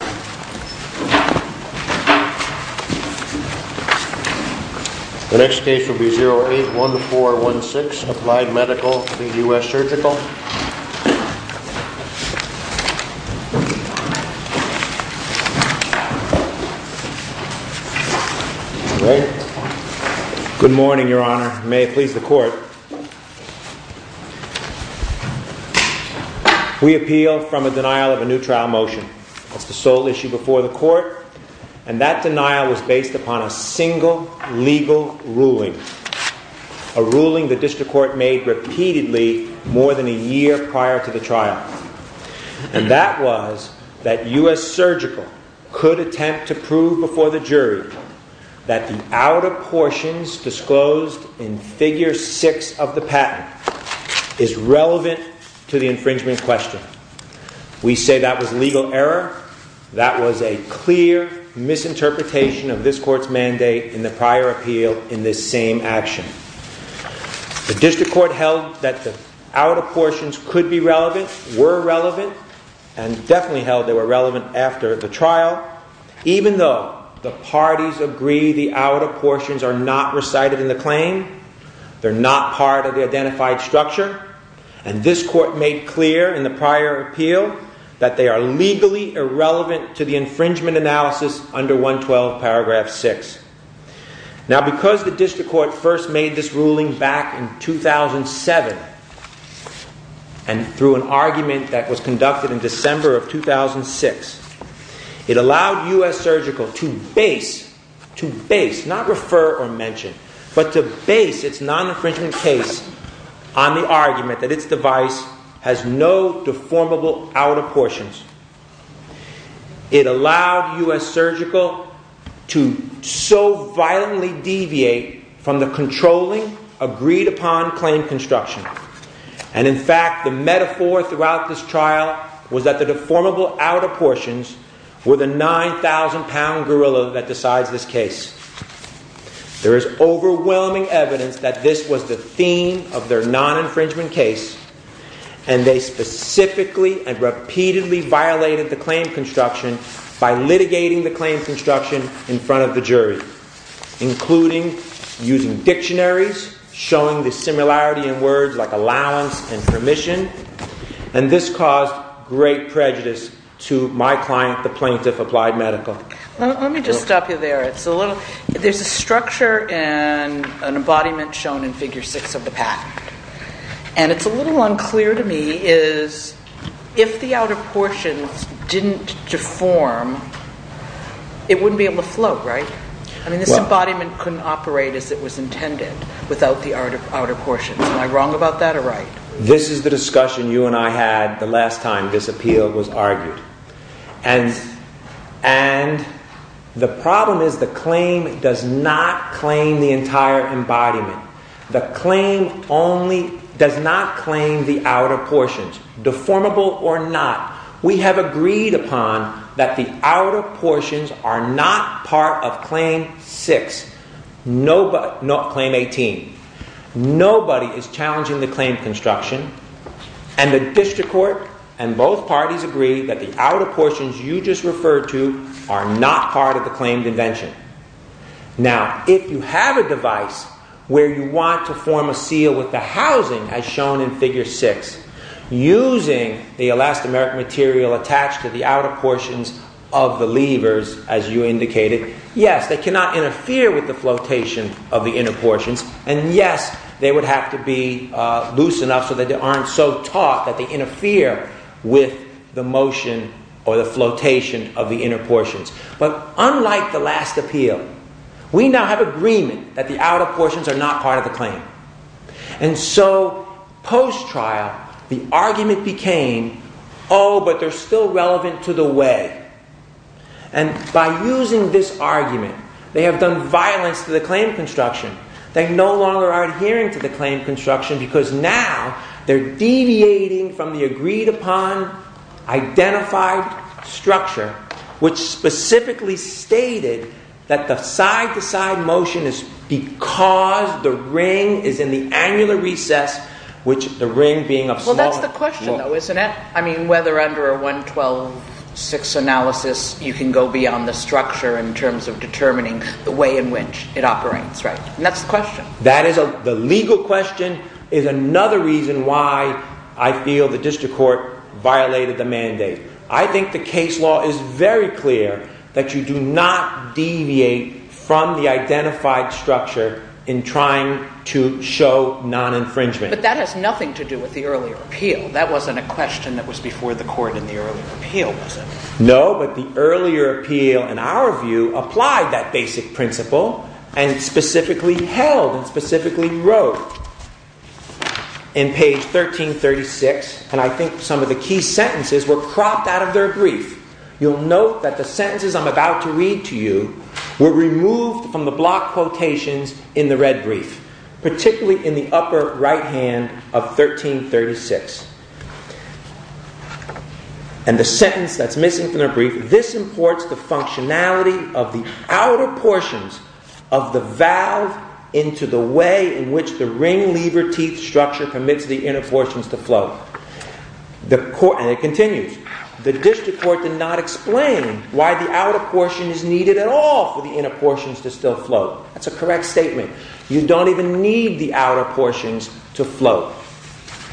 The next case will be 08-1416, Applied Medical v. US Surgical. Good morning, Your Honor. May it please the Court. We appeal from a denial of a new trial motion. That's the sole issue before the Court. And that denial was based upon a single legal ruling. A ruling the District Court made repeatedly more than a year prior to the trial. And that was that US Surgical could attempt to prove before the jury that the outer portions disclosed in figure 6 of the patent is relevant to the infringement question. We say that was legal error. That was a clear misinterpretation of this Court's mandate in the prior appeal in this same action. The District Court held that the outer portions could be relevant, were relevant, and definitely held they were relevant after the trial. Even though the parties agree the outer portions are not recited in the claim, they're not part of the identified structure. And this Court made clear in the prior appeal that they are legally irrelevant to the infringement analysis under 112 paragraph 6. Now because the District Court first made this ruling back in 2007, and through an argument that was conducted in December of 2006, it allowed US Surgical to base, to base, not refer or mention, but to base its non-infringement case on the argument that its device has no deformable outer portions. It allowed US Surgical to so violently deviate from the controlling, agreed-upon claim construction. And in fact, the metaphor throughout this trial was that the deformable outer portions were the 9,000-pound gorilla that decides this case. There is overwhelming evidence that this was the theme of their non-infringement case. And they specifically and repeatedly violated the claim construction by litigating the claim construction in front of the jury, including using dictionaries, showing the similarity in words like allowance and permission. And this caused great prejudice to my client, the plaintiff, Applied Medical. Let me just stop you there. There's a structure and an embodiment shown in Figure 6 of the patent. And it's a little unclear to me is if the outer portions didn't deform, it wouldn't be able to float, right? I mean this embodiment couldn't operate as it was intended without the outer portions. Am I wrong about that or right? This is the discussion you and I had the last time this appeal was argued. And the problem is the claim does not claim the entire embodiment. The claim only does not claim the outer portions, deformable or not. We have agreed upon that the outer portions are not part of Claim 6, not Claim 18. Nobody is challenging the claim construction. And the district court and both parties agree that the outer portions you just referred to are not part of the claimed invention. Now, if you have a device where you want to form a seal with the housing as shown in Figure 6, using the elastomeric material attached to the outer portions of the levers as you indicated, yes, they cannot interfere with the flotation of the inner portions. And yes, they would have to be loose enough so that they aren't so taut that they interfere with the motion or the flotation of the inner portions. But unlike the last appeal, we now have agreement that the outer portions are not part of the claim. And so, post-trial, the argument became, oh, but they're still relevant to the way. And by using this argument, they have done violence to the claim construction. They no longer are adhering to the claim construction because now they're deviating from the agreed upon identified structure, which specifically stated that the side-to-side motion is because the ring is in the annular recess, which the ring being a small... you can go beyond the structure in terms of determining the way in which it operates, right? And that's the question. That is the legal question is another reason why I feel the district court violated the mandate. I think the case law is very clear that you do not deviate from the identified structure in trying to show non-infringement. But that has nothing to do with the earlier appeal. That wasn't a question that was before the court in the earlier appeal, was it? No, but the earlier appeal, in our view, applied that basic principle and specifically held and specifically wrote in page 1336. And I think some of the key sentences were cropped out of their brief. You'll note that the sentences I'm about to read to you were removed from the block quotations in the red brief, particularly in the upper right hand of 1336. And the sentence that's missing from the brief, this imports the functionality of the outer portions of the valve into the way in which the ring lever teeth structure commits the inner portions to float. And it continues, the district court did not explain why the outer portion is needed at all for the inner portions to still float. That's a correct statement. You don't even need the outer portions to float.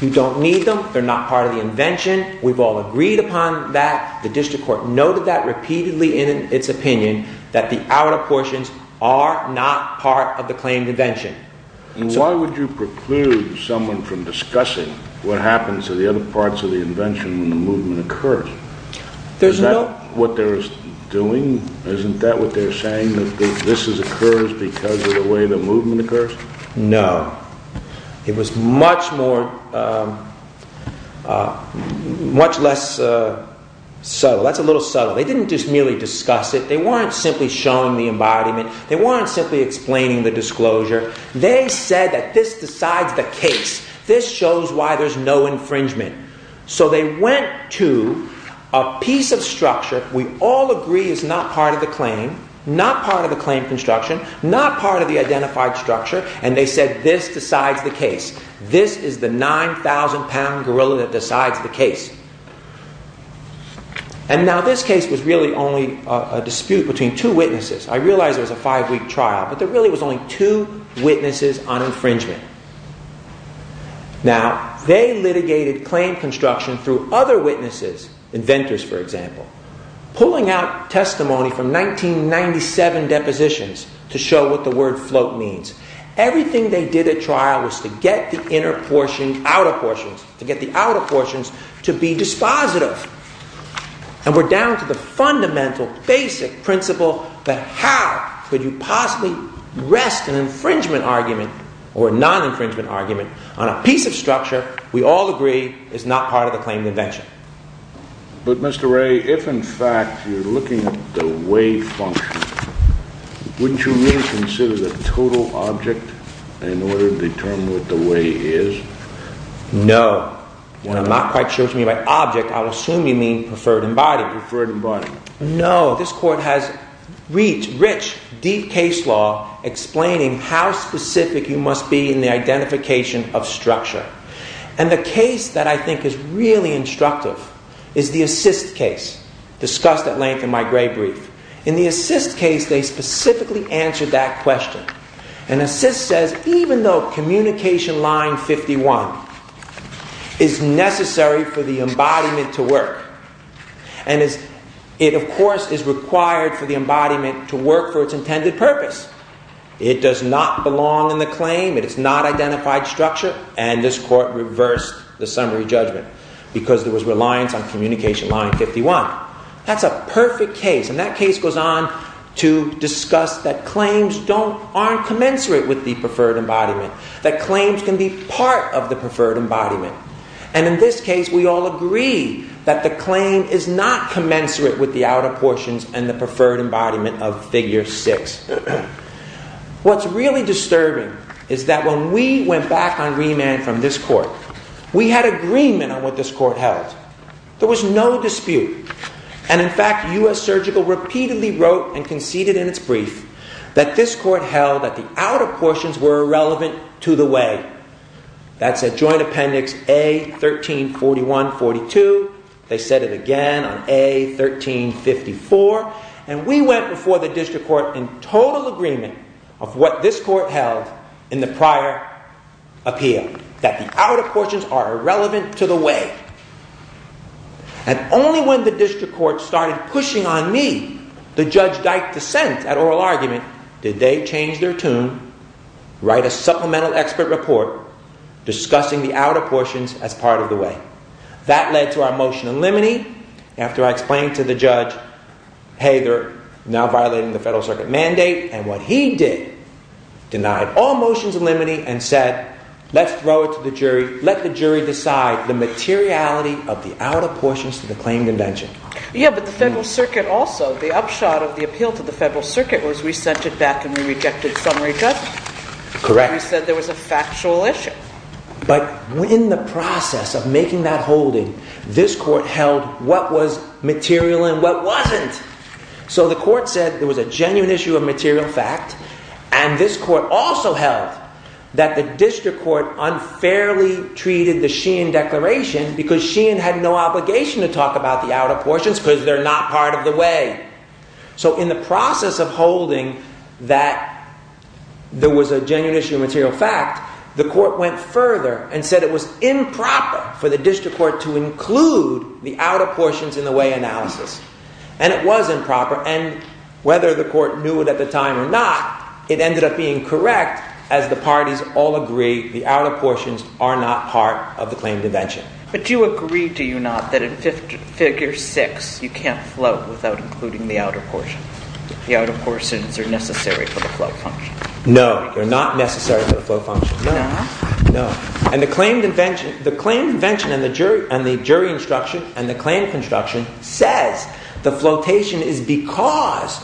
You don't need them. They're not part of the invention. We've all agreed upon that. The district court noted that repeatedly in its opinion that the outer portions are not part of the claimed invention. Why would you preclude someone from discussing what happens to the other parts of the invention when the movement occurs? Is that what they're doing? Isn't that what they're saying, that this occurs because of the way the movement occurs? No. It was much less subtle. That's a little subtle. They didn't just merely discuss it. They weren't simply showing the embodiment. They weren't simply explaining the disclosure. They said that this decides the case. This shows why there's no infringement. So they went to a piece of structure we all agree is not part of the claim, not part of the claim construction, not part of the identified structure, and they said this decides the case. This is the 9,000 pound gorilla that decides the case. And now this case was really only a dispute between two witnesses. I realize it was a five-week trial, but there really was only two witnesses on infringement. Now, they litigated claim construction through other witnesses, inventors, for example, pulling out testimony from 1997 depositions to show what the word float means. Everything they did at trial was to get the inner portions, outer portions, to get the outer portions to be dispositive. And we're down to the fundamental basic principle that how could you possibly rest an infringement argument or a non-infringement argument on a piece of structure we all agree is not part of the claim invention. But, Mr. Ray, if in fact you're looking at the way function, wouldn't you really consider the total object in order to determine what the way is? No. When I'm not quite sure what you mean by object, I'll assume you mean preferred embodiment. Preferred embodiment. No. This court has rich, deep case law explaining how specific you must be in the identification of structure. And the case that I think is really instructive is the assist case discussed at length in my gray brief. In the assist case, they specifically answered that question. And assist says even though communication line 51 is necessary for the embodiment to work and it, of course, is required for the embodiment to work for its intended purpose, it does not belong in the claim, it is not identified structure, and this court reversed the summary judgment because there was reliance on communication line 51. That's a perfect case, and that case goes on to discuss that claims aren't commensurate with the preferred embodiment, that claims can be part of the preferred embodiment. And in this case, we all agree that the claim is not commensurate with the outer portions and the preferred embodiment of figure six. What's really disturbing is that when we went back on remand from this court, we had agreement on what this court held. There was no dispute. And in fact, U.S. Surgical repeatedly wrote and conceded in its brief that this court held that the outer portions were irrelevant to the way. That's at joint appendix A1341-42. They said it again on A1354. And we went before the district court in total agreement of what this court held in the prior appeal, that the outer portions are irrelevant to the way. And only when the district court started pushing on me, the Judge Dyke dissent at oral argument, did they change their tune, write a supplemental expert report discussing the outer portions as part of the way. That led to our motion in limine. After I explained to the judge, hey, they're now violating the Federal Circuit mandate. And what he did, denied all motions in limine and said, let's throw it to the jury. Let the jury decide the materiality of the outer portions to the claim convention. Yeah, but the Federal Circuit also. The upshot of the appeal to the Federal Circuit was we sent it back and we rejected summary judgment. Correct. We said there was a factual issue. But in the process of making that holding, this court held what was material and what wasn't. So the court said there was a genuine issue of material fact. And this court also held that the district court unfairly treated the Sheehan Declaration because Sheehan had no obligation to talk about the outer portions because they're not part of the way. So in the process of holding that there was a genuine issue of material fact, the court went further and said it was improper for the district court to include the outer portions in the way analysis. And it was improper. And whether the court knew it at the time or not, it ended up being correct as the parties all agree the outer portions are not part of the claimed invention. But do you agree, do you not, that in figure six you can't float without including the outer portion? The outer portions are necessary for the float function. No, they're not necessary for the float function. No? No. And the claimed invention and the jury instruction and the claim construction says the flotation is because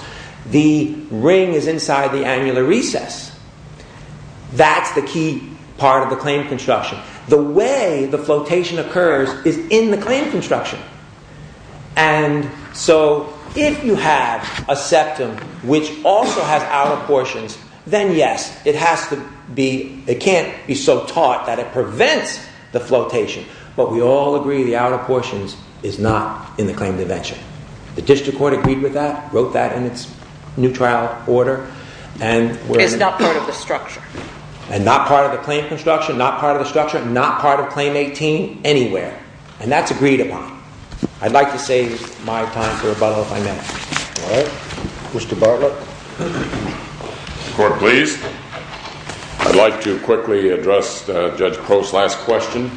the ring is inside the annular recess. That's the key part of the claim construction. The way the flotation occurs is in the claim construction. And so if you have a septum which also has outer portions, then yes, it has to be, it can't be so taut that it prevents the flotation. But we all agree the outer portions is not in the claimed invention. The district court agreed with that, wrote that in its new trial order. It's not part of the structure. And not part of the claim construction, not part of the structure, not part of claim 18 anywhere. And that's agreed upon. I'd like to save my time for about five minutes. All right. Mr. Bartlett. Court, please. I'd like to quickly address Judge Crow's last question.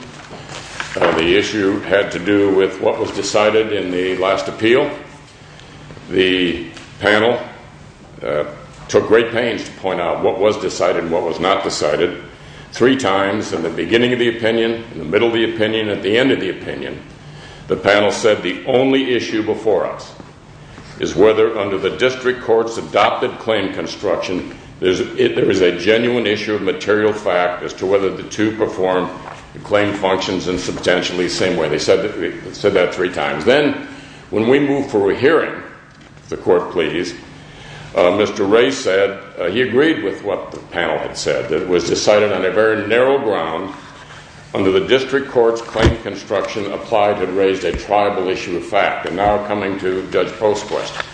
The issue had to do with what was decided in the last appeal. The panel took great pains to point out what was decided and what was not decided. Three times in the beginning of the opinion, in the middle of the opinion, at the end of the opinion, the panel said the only issue before us is whether under the district court's adopted claim construction, there is a genuine issue of material fact as to whether the two perform the claim functions in substantially the same way. They said that three times. Then when we moved for a hearing, the court please, Mr. Ray said he agreed with what the panel had said. It was decided on a very narrow ground under the district court's claim construction applied to raise a tribal issue of fact. And now coming to Judge Post's question.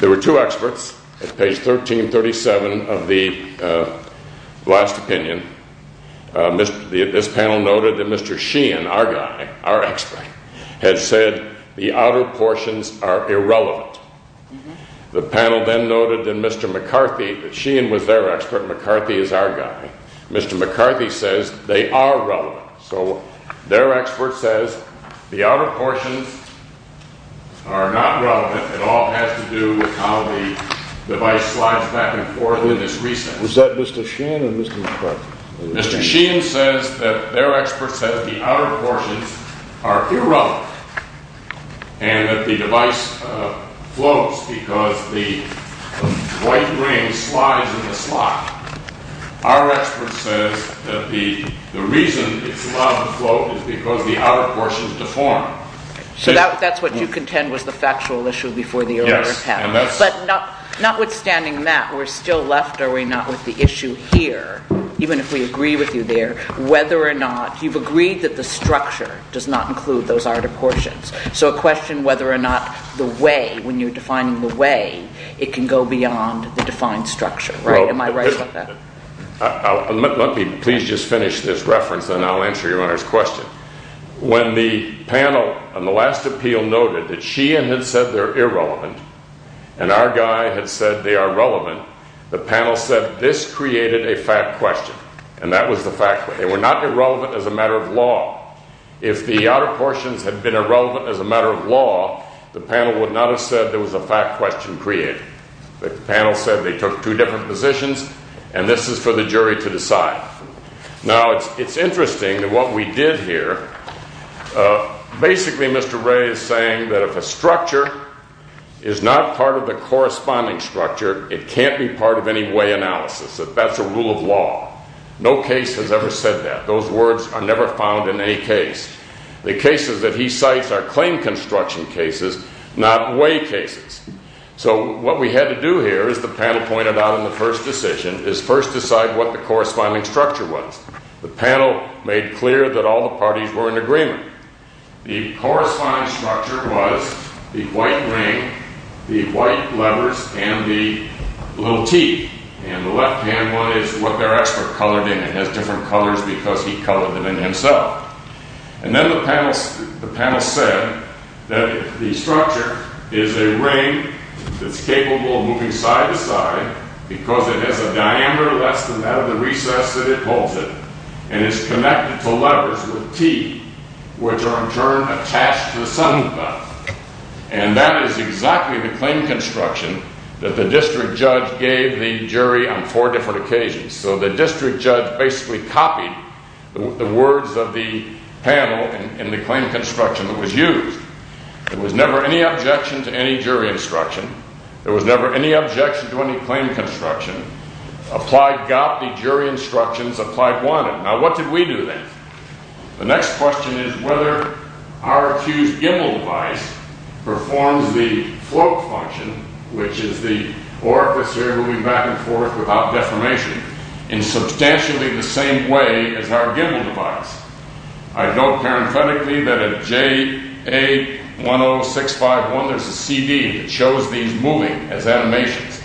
There were two experts at page 1337 of the last opinion. This panel noted that Mr. Sheehan, our guy, our expert, had said the outer portions are irrelevant. The panel then noted that Mr. McCarthy, that Sheehan was their expert, McCarthy is our guy. Mr. McCarthy says they are relevant. So their expert says the outer portions are not relevant. It all has to do with how the device slides back and forth in this recess. Was that Mr. Sheehan or Mr. McCarthy? Mr. Sheehan says that their expert says the outer portions are irrelevant and that the device floats because the white ring slides in the slot. Our expert says that the reason it's allowed to float is because the outer portions deform. So that's what you contend was the factual issue before the arrest happened. Yes. But notwithstanding that, we're still left, are we not, with the issue here, even if we agree with you there, whether or not you've agreed that the structure does not include those outer portions. So a question whether or not the way, when you're defining the way, it can go beyond the defined structure, right? Am I right about that? Let me please just finish this reference and I'll answer your Honor's question. When the panel on the last appeal noted that Sheehan had said they're irrelevant and our guy had said they are relevant, the panel said this created a fact question. And that was the fact. They were not irrelevant as a matter of law. If the outer portions had been irrelevant as a matter of law, the panel would not have said there was a fact question created. The panel said they took two different positions and this is for the jury to decide. Now, it's interesting that what we did here, basically Mr. Ray is saying that if a structure is not part of the corresponding structure, it can't be part of any way analysis. That's a rule of law. No case has ever said that. Those words are never found in any case. The cases that he cites are claim construction cases, not way cases. So what we had to do here, as the panel pointed out in the first decision, is first decide what the corresponding structure was. The panel made clear that all the parties were in agreement. The corresponding structure was the white ring, the white letters, and the little T. And the left-hand one is what their expert colored in. It has different colors because he colored them in himself. And then the panel said that the structure is a ring that's capable of moving side to side because it has a diameter less than that of the recess that it holds it. And it's connected to letters with T, which are in turn attached to the sum of them. And that is exactly the claim construction that the district judge gave the jury on four different occasions. So the district judge basically copied the words of the panel in the claim construction that was used. There was never any objection to any jury instruction. There was never any objection to any claim construction. Applied got the jury instructions. Applied wanted. Now, what did we do then? The next question is whether RQ's gimbal device performs the float function, which is the orifice moving back and forth without deformation, in substantially the same way as our gimbal device. I know parenthetically that at JA10651, there's a CD that shows these moving as animations.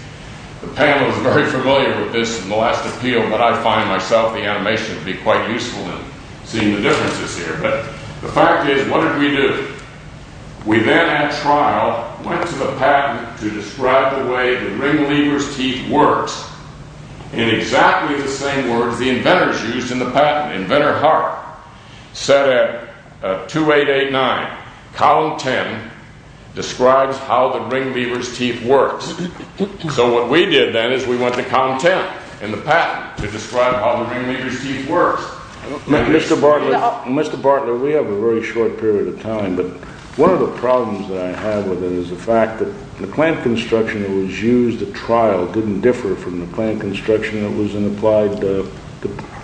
The panel is very familiar with this in the last appeal, but I find myself the animation to be quite useful in seeing the differences here. But the fact is, what did we do? We then at trial went to the patent to describe the way the ring lever's teeth works in exactly the same words the inventors used in the patent. Inventor Hart said at 2889, column 10 describes how the ring lever's teeth works. So what we did then is we went to column 10 in the patent to describe how the ring lever's teeth works. Mr. Bartlett, we have a very short period of time, but one of the problems that I have with it is the fact that the claim construction that was used at trial didn't differ from the claim construction that was in applied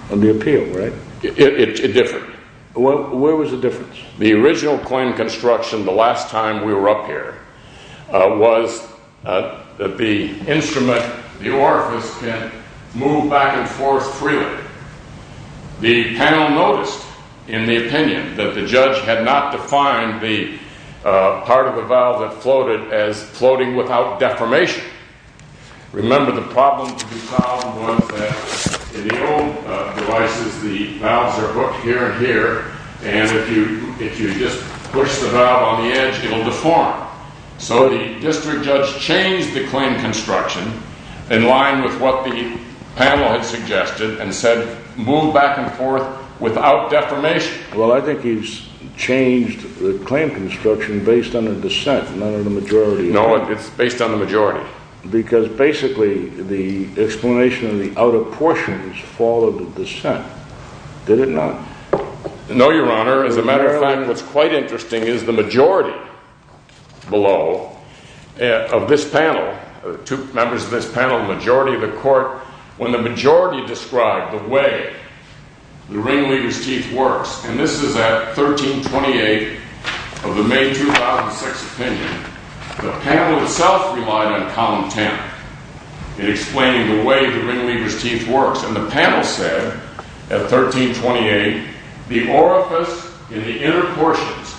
on the appeal, right? It differed. Where was the difference? The original claim construction, the last time we were up here, was that the instrument, the orifice, can move back and forth freely. The panel noticed in the opinion that the judge had not defined the part of the valve that floated as floating without deformation. Remember, the problem to be solved was that in the old devices, the valves are hooked here and here. And if you just push the valve on the edge, it'll deform. So the district judge changed the claim construction in line with what the panel had suggested and said, move back and forth without deformation. Well, I think he's changed the claim construction based on the dissent, not on the majority. No, it's based on the majority. Because basically, the explanation of the outer portions followed the dissent, did it not? No, Your Honor. As a matter of fact, what's quite interesting is the majority below of this panel, two members of this panel, the majority of the court, when the majority described the way the ringleader's teeth works, and this is at 1328 of the May 2006 opinion, the panel itself relied on column 10 in explaining the way the ringleader's teeth works. And the panel said, at 1328, the orifice in the inner portions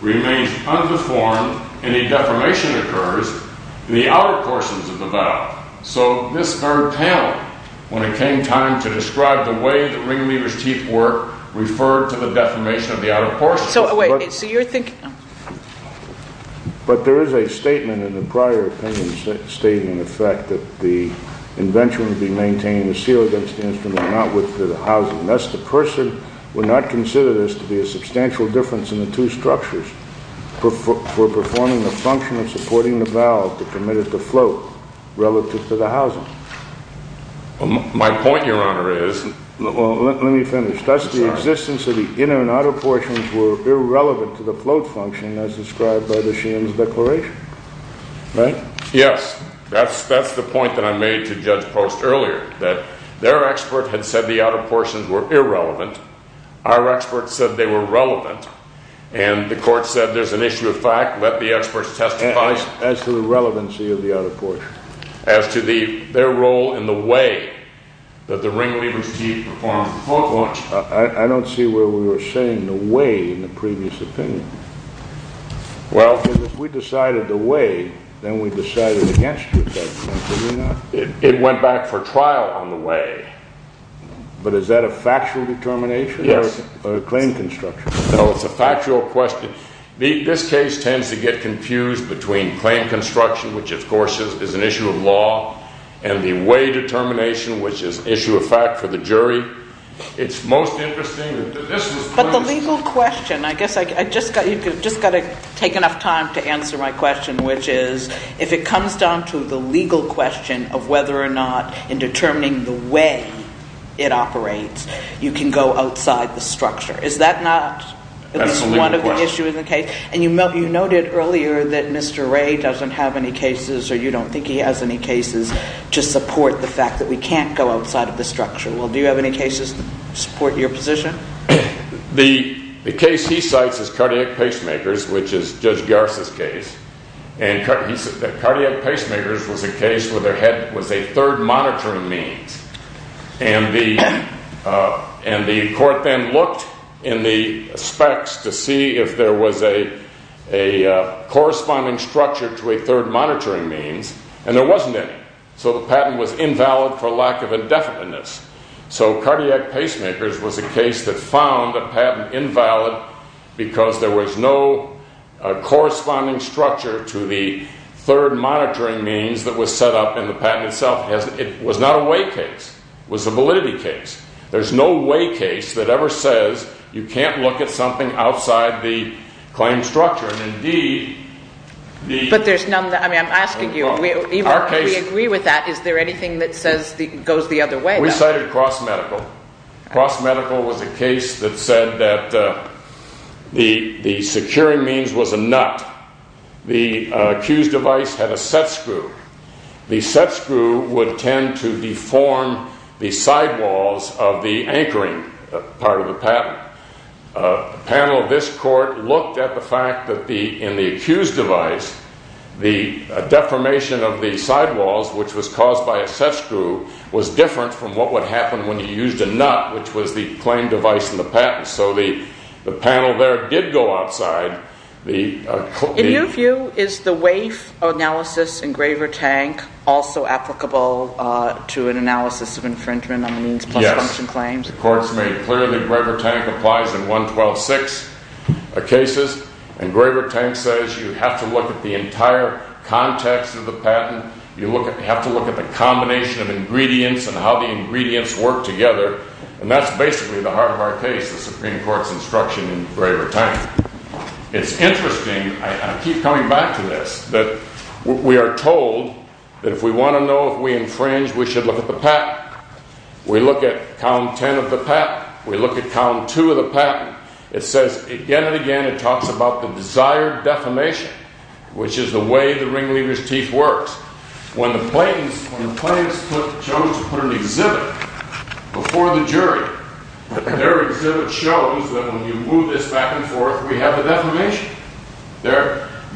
remains undeformed and a deformation occurs in the outer portions of the valve. So this third panel, when it came time to describe the way the ringleader's teeth work, referred to the deformation of the outer portions. So wait, so you're thinking… But there is a statement in the prior opinion statement, in fact, that the invention would be maintained and sealed against the instrument, not with the housing. And thus, the person would not consider this to be a substantial difference in the two structures for performing the function of supporting the valve to commit it to float relative to the housing. My point, Your Honor, is… Well, let me finish. That's the existence of the inner and outer portions were irrelevant to the float function as described by the Sheehan's Declaration, right? Yes, that's the point that I made to Judge Post earlier, that their expert had said the outer portions were irrelevant. Our expert said they were relevant. And the court said there's an issue of fact. Let the experts testify. As to the relevancy of the outer portion? As to their role in the way that the ringleader's teeth perform the float function. I don't see where we were saying the way in the previous opinion. Well, if we decided the way, then we decided against it at that point, did we not? It went back for trial on the way. But is that a factual determination? Yes. Or a claim construction? No, it's a factual question. This case tends to get confused between claim construction, which, of course, is an issue of law, and the way determination, which is an issue of fact for the jury. It's most interesting… But the legal question, I guess I just got to take enough time to answer my question, which is, if it comes down to the legal question of whether or not in determining the way it operates, you can go outside the structure. Is that not at least one of the issues in the case? And you noted earlier that Mr. Wray doesn't have any cases, or you don't think he has any cases, to support the fact that we can't go outside of the structure. Well, do you have any cases to support your position? The case he cites is cardiac pacemakers, which is Judge Garza's case. And cardiac pacemakers was a case where there was a third monitoring means. And the court then looked in the specs to see if there was a corresponding structure to a third monitoring means, and there wasn't any. So the patent was invalid for lack of indefiniteness. So cardiac pacemakers was a case that found a patent invalid because there was no corresponding structure to the third monitoring means that was set up in the patent itself. It was not a way case. It was a validity case. There's no way case that ever says you can't look at something outside the claim structure. But I'm asking you, even if we agree with that, is there anything that goes the other way? We cited cross-medical. Cross-medical was a case that said that the securing means was a nut. The accused device had a set screw. The set screw would tend to deform the sidewalls of the anchoring part of the patent. A panel of this court looked at the fact that in the accused device, the deformation of the sidewalls, which was caused by a set screw, was different from what would happen when you used a nut, which was the claim device in the patent. So the panel there did go outside. In your view, is the WAIF analysis engraver tank also applicable to an analysis of infringement on the means plus function claims? The court's made clear the engraver tank applies in 112.6 cases. And engraver tank says you have to look at the entire context of the patent. You have to look at the combination of ingredients and how the ingredients work together. And that's basically the heart of our case, the Supreme Court's instruction in engraver tank. It's interesting, I keep coming back to this, that we are told that if we want to know if we infringe, we should look at the patent. We look at count 10 of the patent. We look at count 2 of the patent. It says again and again, it talks about the desired defamation, which is the way the ringleader's teeth works. When the plaintiffs chose to put an exhibit before the jury, their exhibit shows that when you move this back and forth, we have the defamation.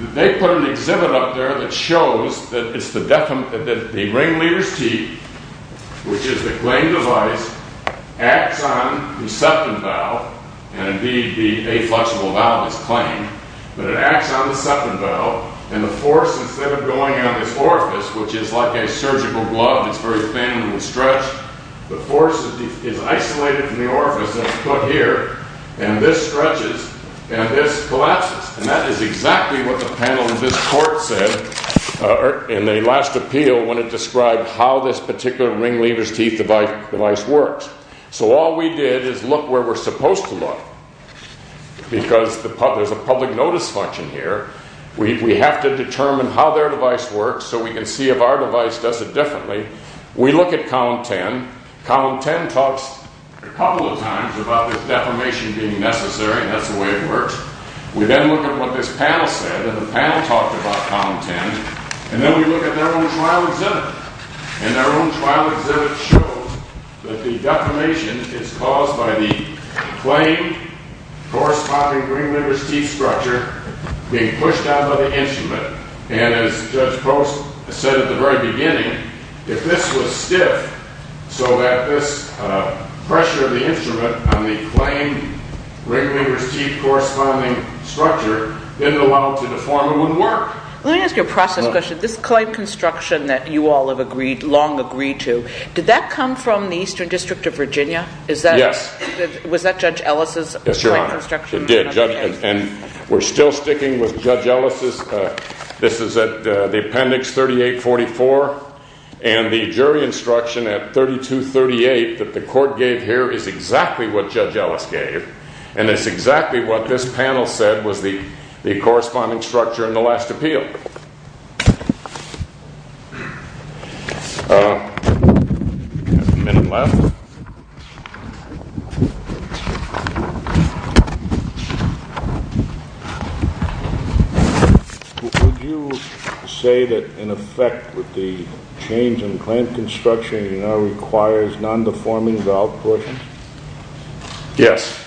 They put an exhibit up there that shows that the ringleader's teeth, which is the claimed device, acts on the septum valve. And indeed, the aflexible valve is claimed. But it acts on the septum valve. And the force, instead of going on this orifice, which is like a surgical glove, it's very thin and will stretch. The force is isolated from the orifice that's put here, and this stretches and this collapses. And that is exactly what the panel in this court said in the last appeal when it described how this particular ringleader's teeth device works. So all we did is look where we're supposed to look, because there's a public notice function here. We have to determine how their device works so we can see if our device does it differently. We look at Column 10. Column 10 talks a couple of times about this defamation being necessary, and that's the way it works. We then look at what this panel said, and the panel talked about Column 10. And then we look at their own trial exhibit. And their own trial exhibit shows that the defamation is caused by the claimed corresponding ringleader's teeth structure being pushed out by the instrument. And as Judge Post said at the very beginning, if this was stiff so that this pressure of the instrument on the claimed ringleader's teeth corresponding structure didn't allow it to deform, it wouldn't work. Let me ask you a process question. This client construction that you all have agreed, long agreed to, did that come from the Eastern District of Virginia? Yes. Was that Judge Ellis' client construction? Yes, Your Honor. It did. And we're still sticking with Judge Ellis'. This is at the appendix 3844. And the jury instruction at 3238 that the court gave here is exactly what Judge Ellis gave, and it's exactly what this panel said was the corresponding structure in the last appeal. We have a minute left. Would you say that, in effect, with the change in the claim construction, it now requires non-deforming valve pushing? Yes.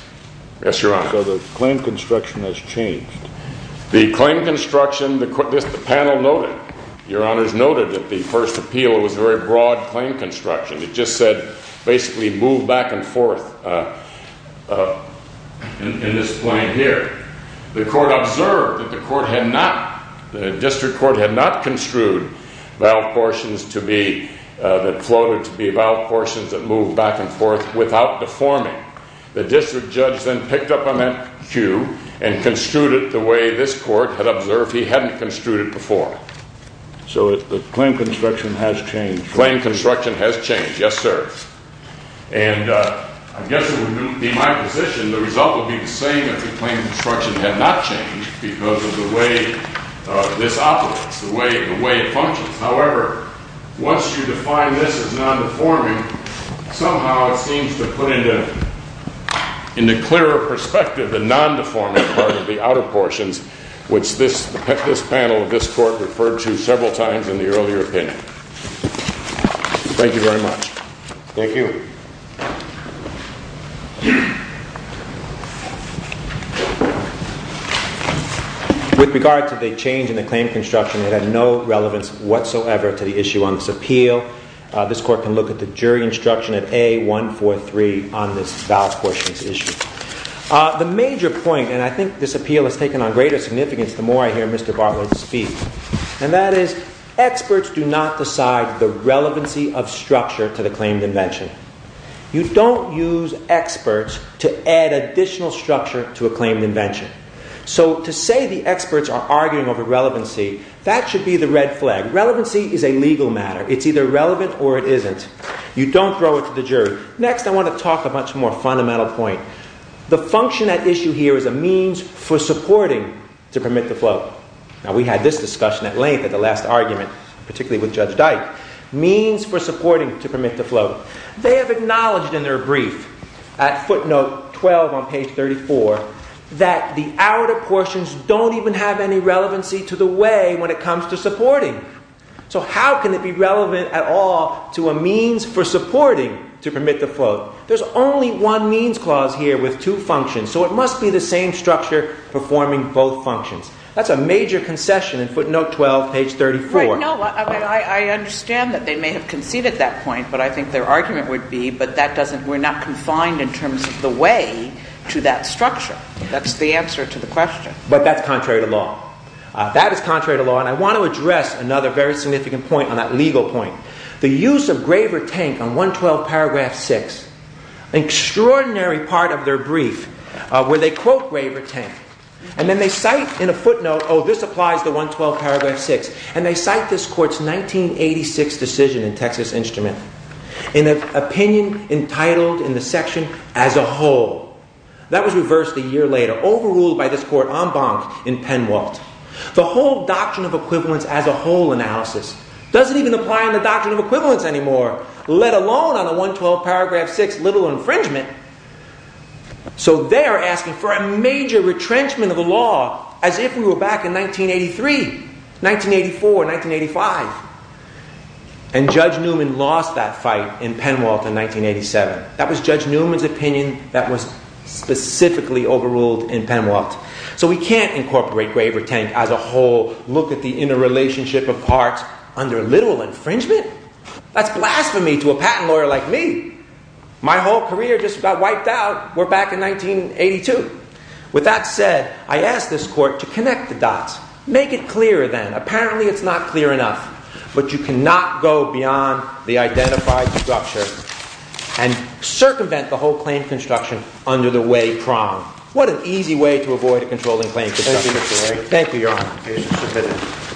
Yes, Your Honor. So the claim construction has changed. The claim construction, the panel noted, Your Honors, noted that the first appeal was very broad claim construction. It just said, basically, move back and forth in this claim here. The court observed that the court had not, the district court had not construed valve portions to be, that floated to be valve portions that moved back and forth without deforming. The district judge then picked up on that cue and construed it the way this court had observed he hadn't construed it before. So the claim construction has changed. Yes, sir. And I guess it would be my position the result would be the same if the claim construction had not changed because of the way this operates, the way it functions. However, once you define this as non-deforming, somehow it seems to put into clearer perspective the non-deforming part of the outer portions, which this panel of this court referred to several times in the earlier opinion. Thank you very much. Thank you. With regard to the change in the claim construction, it had no relevance whatsoever to the issue on this appeal. This court can look at the jury instruction at A143 on this valve portions issue. The major point, and I think this appeal has taken on greater significance the more I hear Mr. Bartlett speak, and that is experts do not decide the relevancy of structure to the claimed invention. You don't use experts to add additional structure to a claimed invention. So to say the experts are arguing over relevancy, that should be the red flag. Relevancy is a legal matter. It's either relevant or it isn't. You don't throw it to the jury. Next, I want to talk about a much more fundamental point. The function at issue here is a means for supporting to permit the float. Now, we had this discussion at length at the last argument, particularly with Judge Dyke. Means for supporting to permit the float. They have acknowledged in their brief at footnote 12 on page 34 that the outer portions don't even have any relevancy to the way when it comes to supporting. So how can it be relevant at all to a means for supporting to permit the float? There's only one means clause here with two functions, so it must be the same structure performing both functions. That's a major concession in footnote 12, page 34. No, I understand that they may have conceded that point, but I think their argument would be, but we're not confined in terms of the way to that structure. That's the answer to the question. But that's contrary to law. That is contrary to law, and I want to address another very significant point on that legal point. The use of Graver Tank on 112 paragraph 6, an extraordinary part of their brief where they quote Graver Tank. And then they cite in a footnote, oh, this applies to 112 paragraph 6. And they cite this court's 1986 decision in Texas Instrument in an opinion entitled in the section as a whole. That was reversed a year later, overruled by this court en banc in Penwalt. The whole doctrine of equivalence as a whole analysis doesn't even apply in the doctrine of equivalence anymore, let alone on the 112 paragraph 6 little infringement. So they're asking for a major retrenchment of the law as if we were back in 1983, 1984, 1985. And Judge Newman lost that fight in Penwalt in 1987. That was Judge Newman's opinion that was specifically overruled in Penwalt. So we can't incorporate Graver Tank as a whole, look at the interrelationship of parts under literal infringement. That's blasphemy to a patent lawyer like me. My whole career just got wiped out. We're back in 1982. With that said, I ask this court to connect the dots. Make it clearer then. Apparently, it's not clear enough. But you cannot go beyond the identified structure and circumvent the whole claim construction under the way prong. What an easy way to avoid a controlling claim construction. Thank you, Your Honor.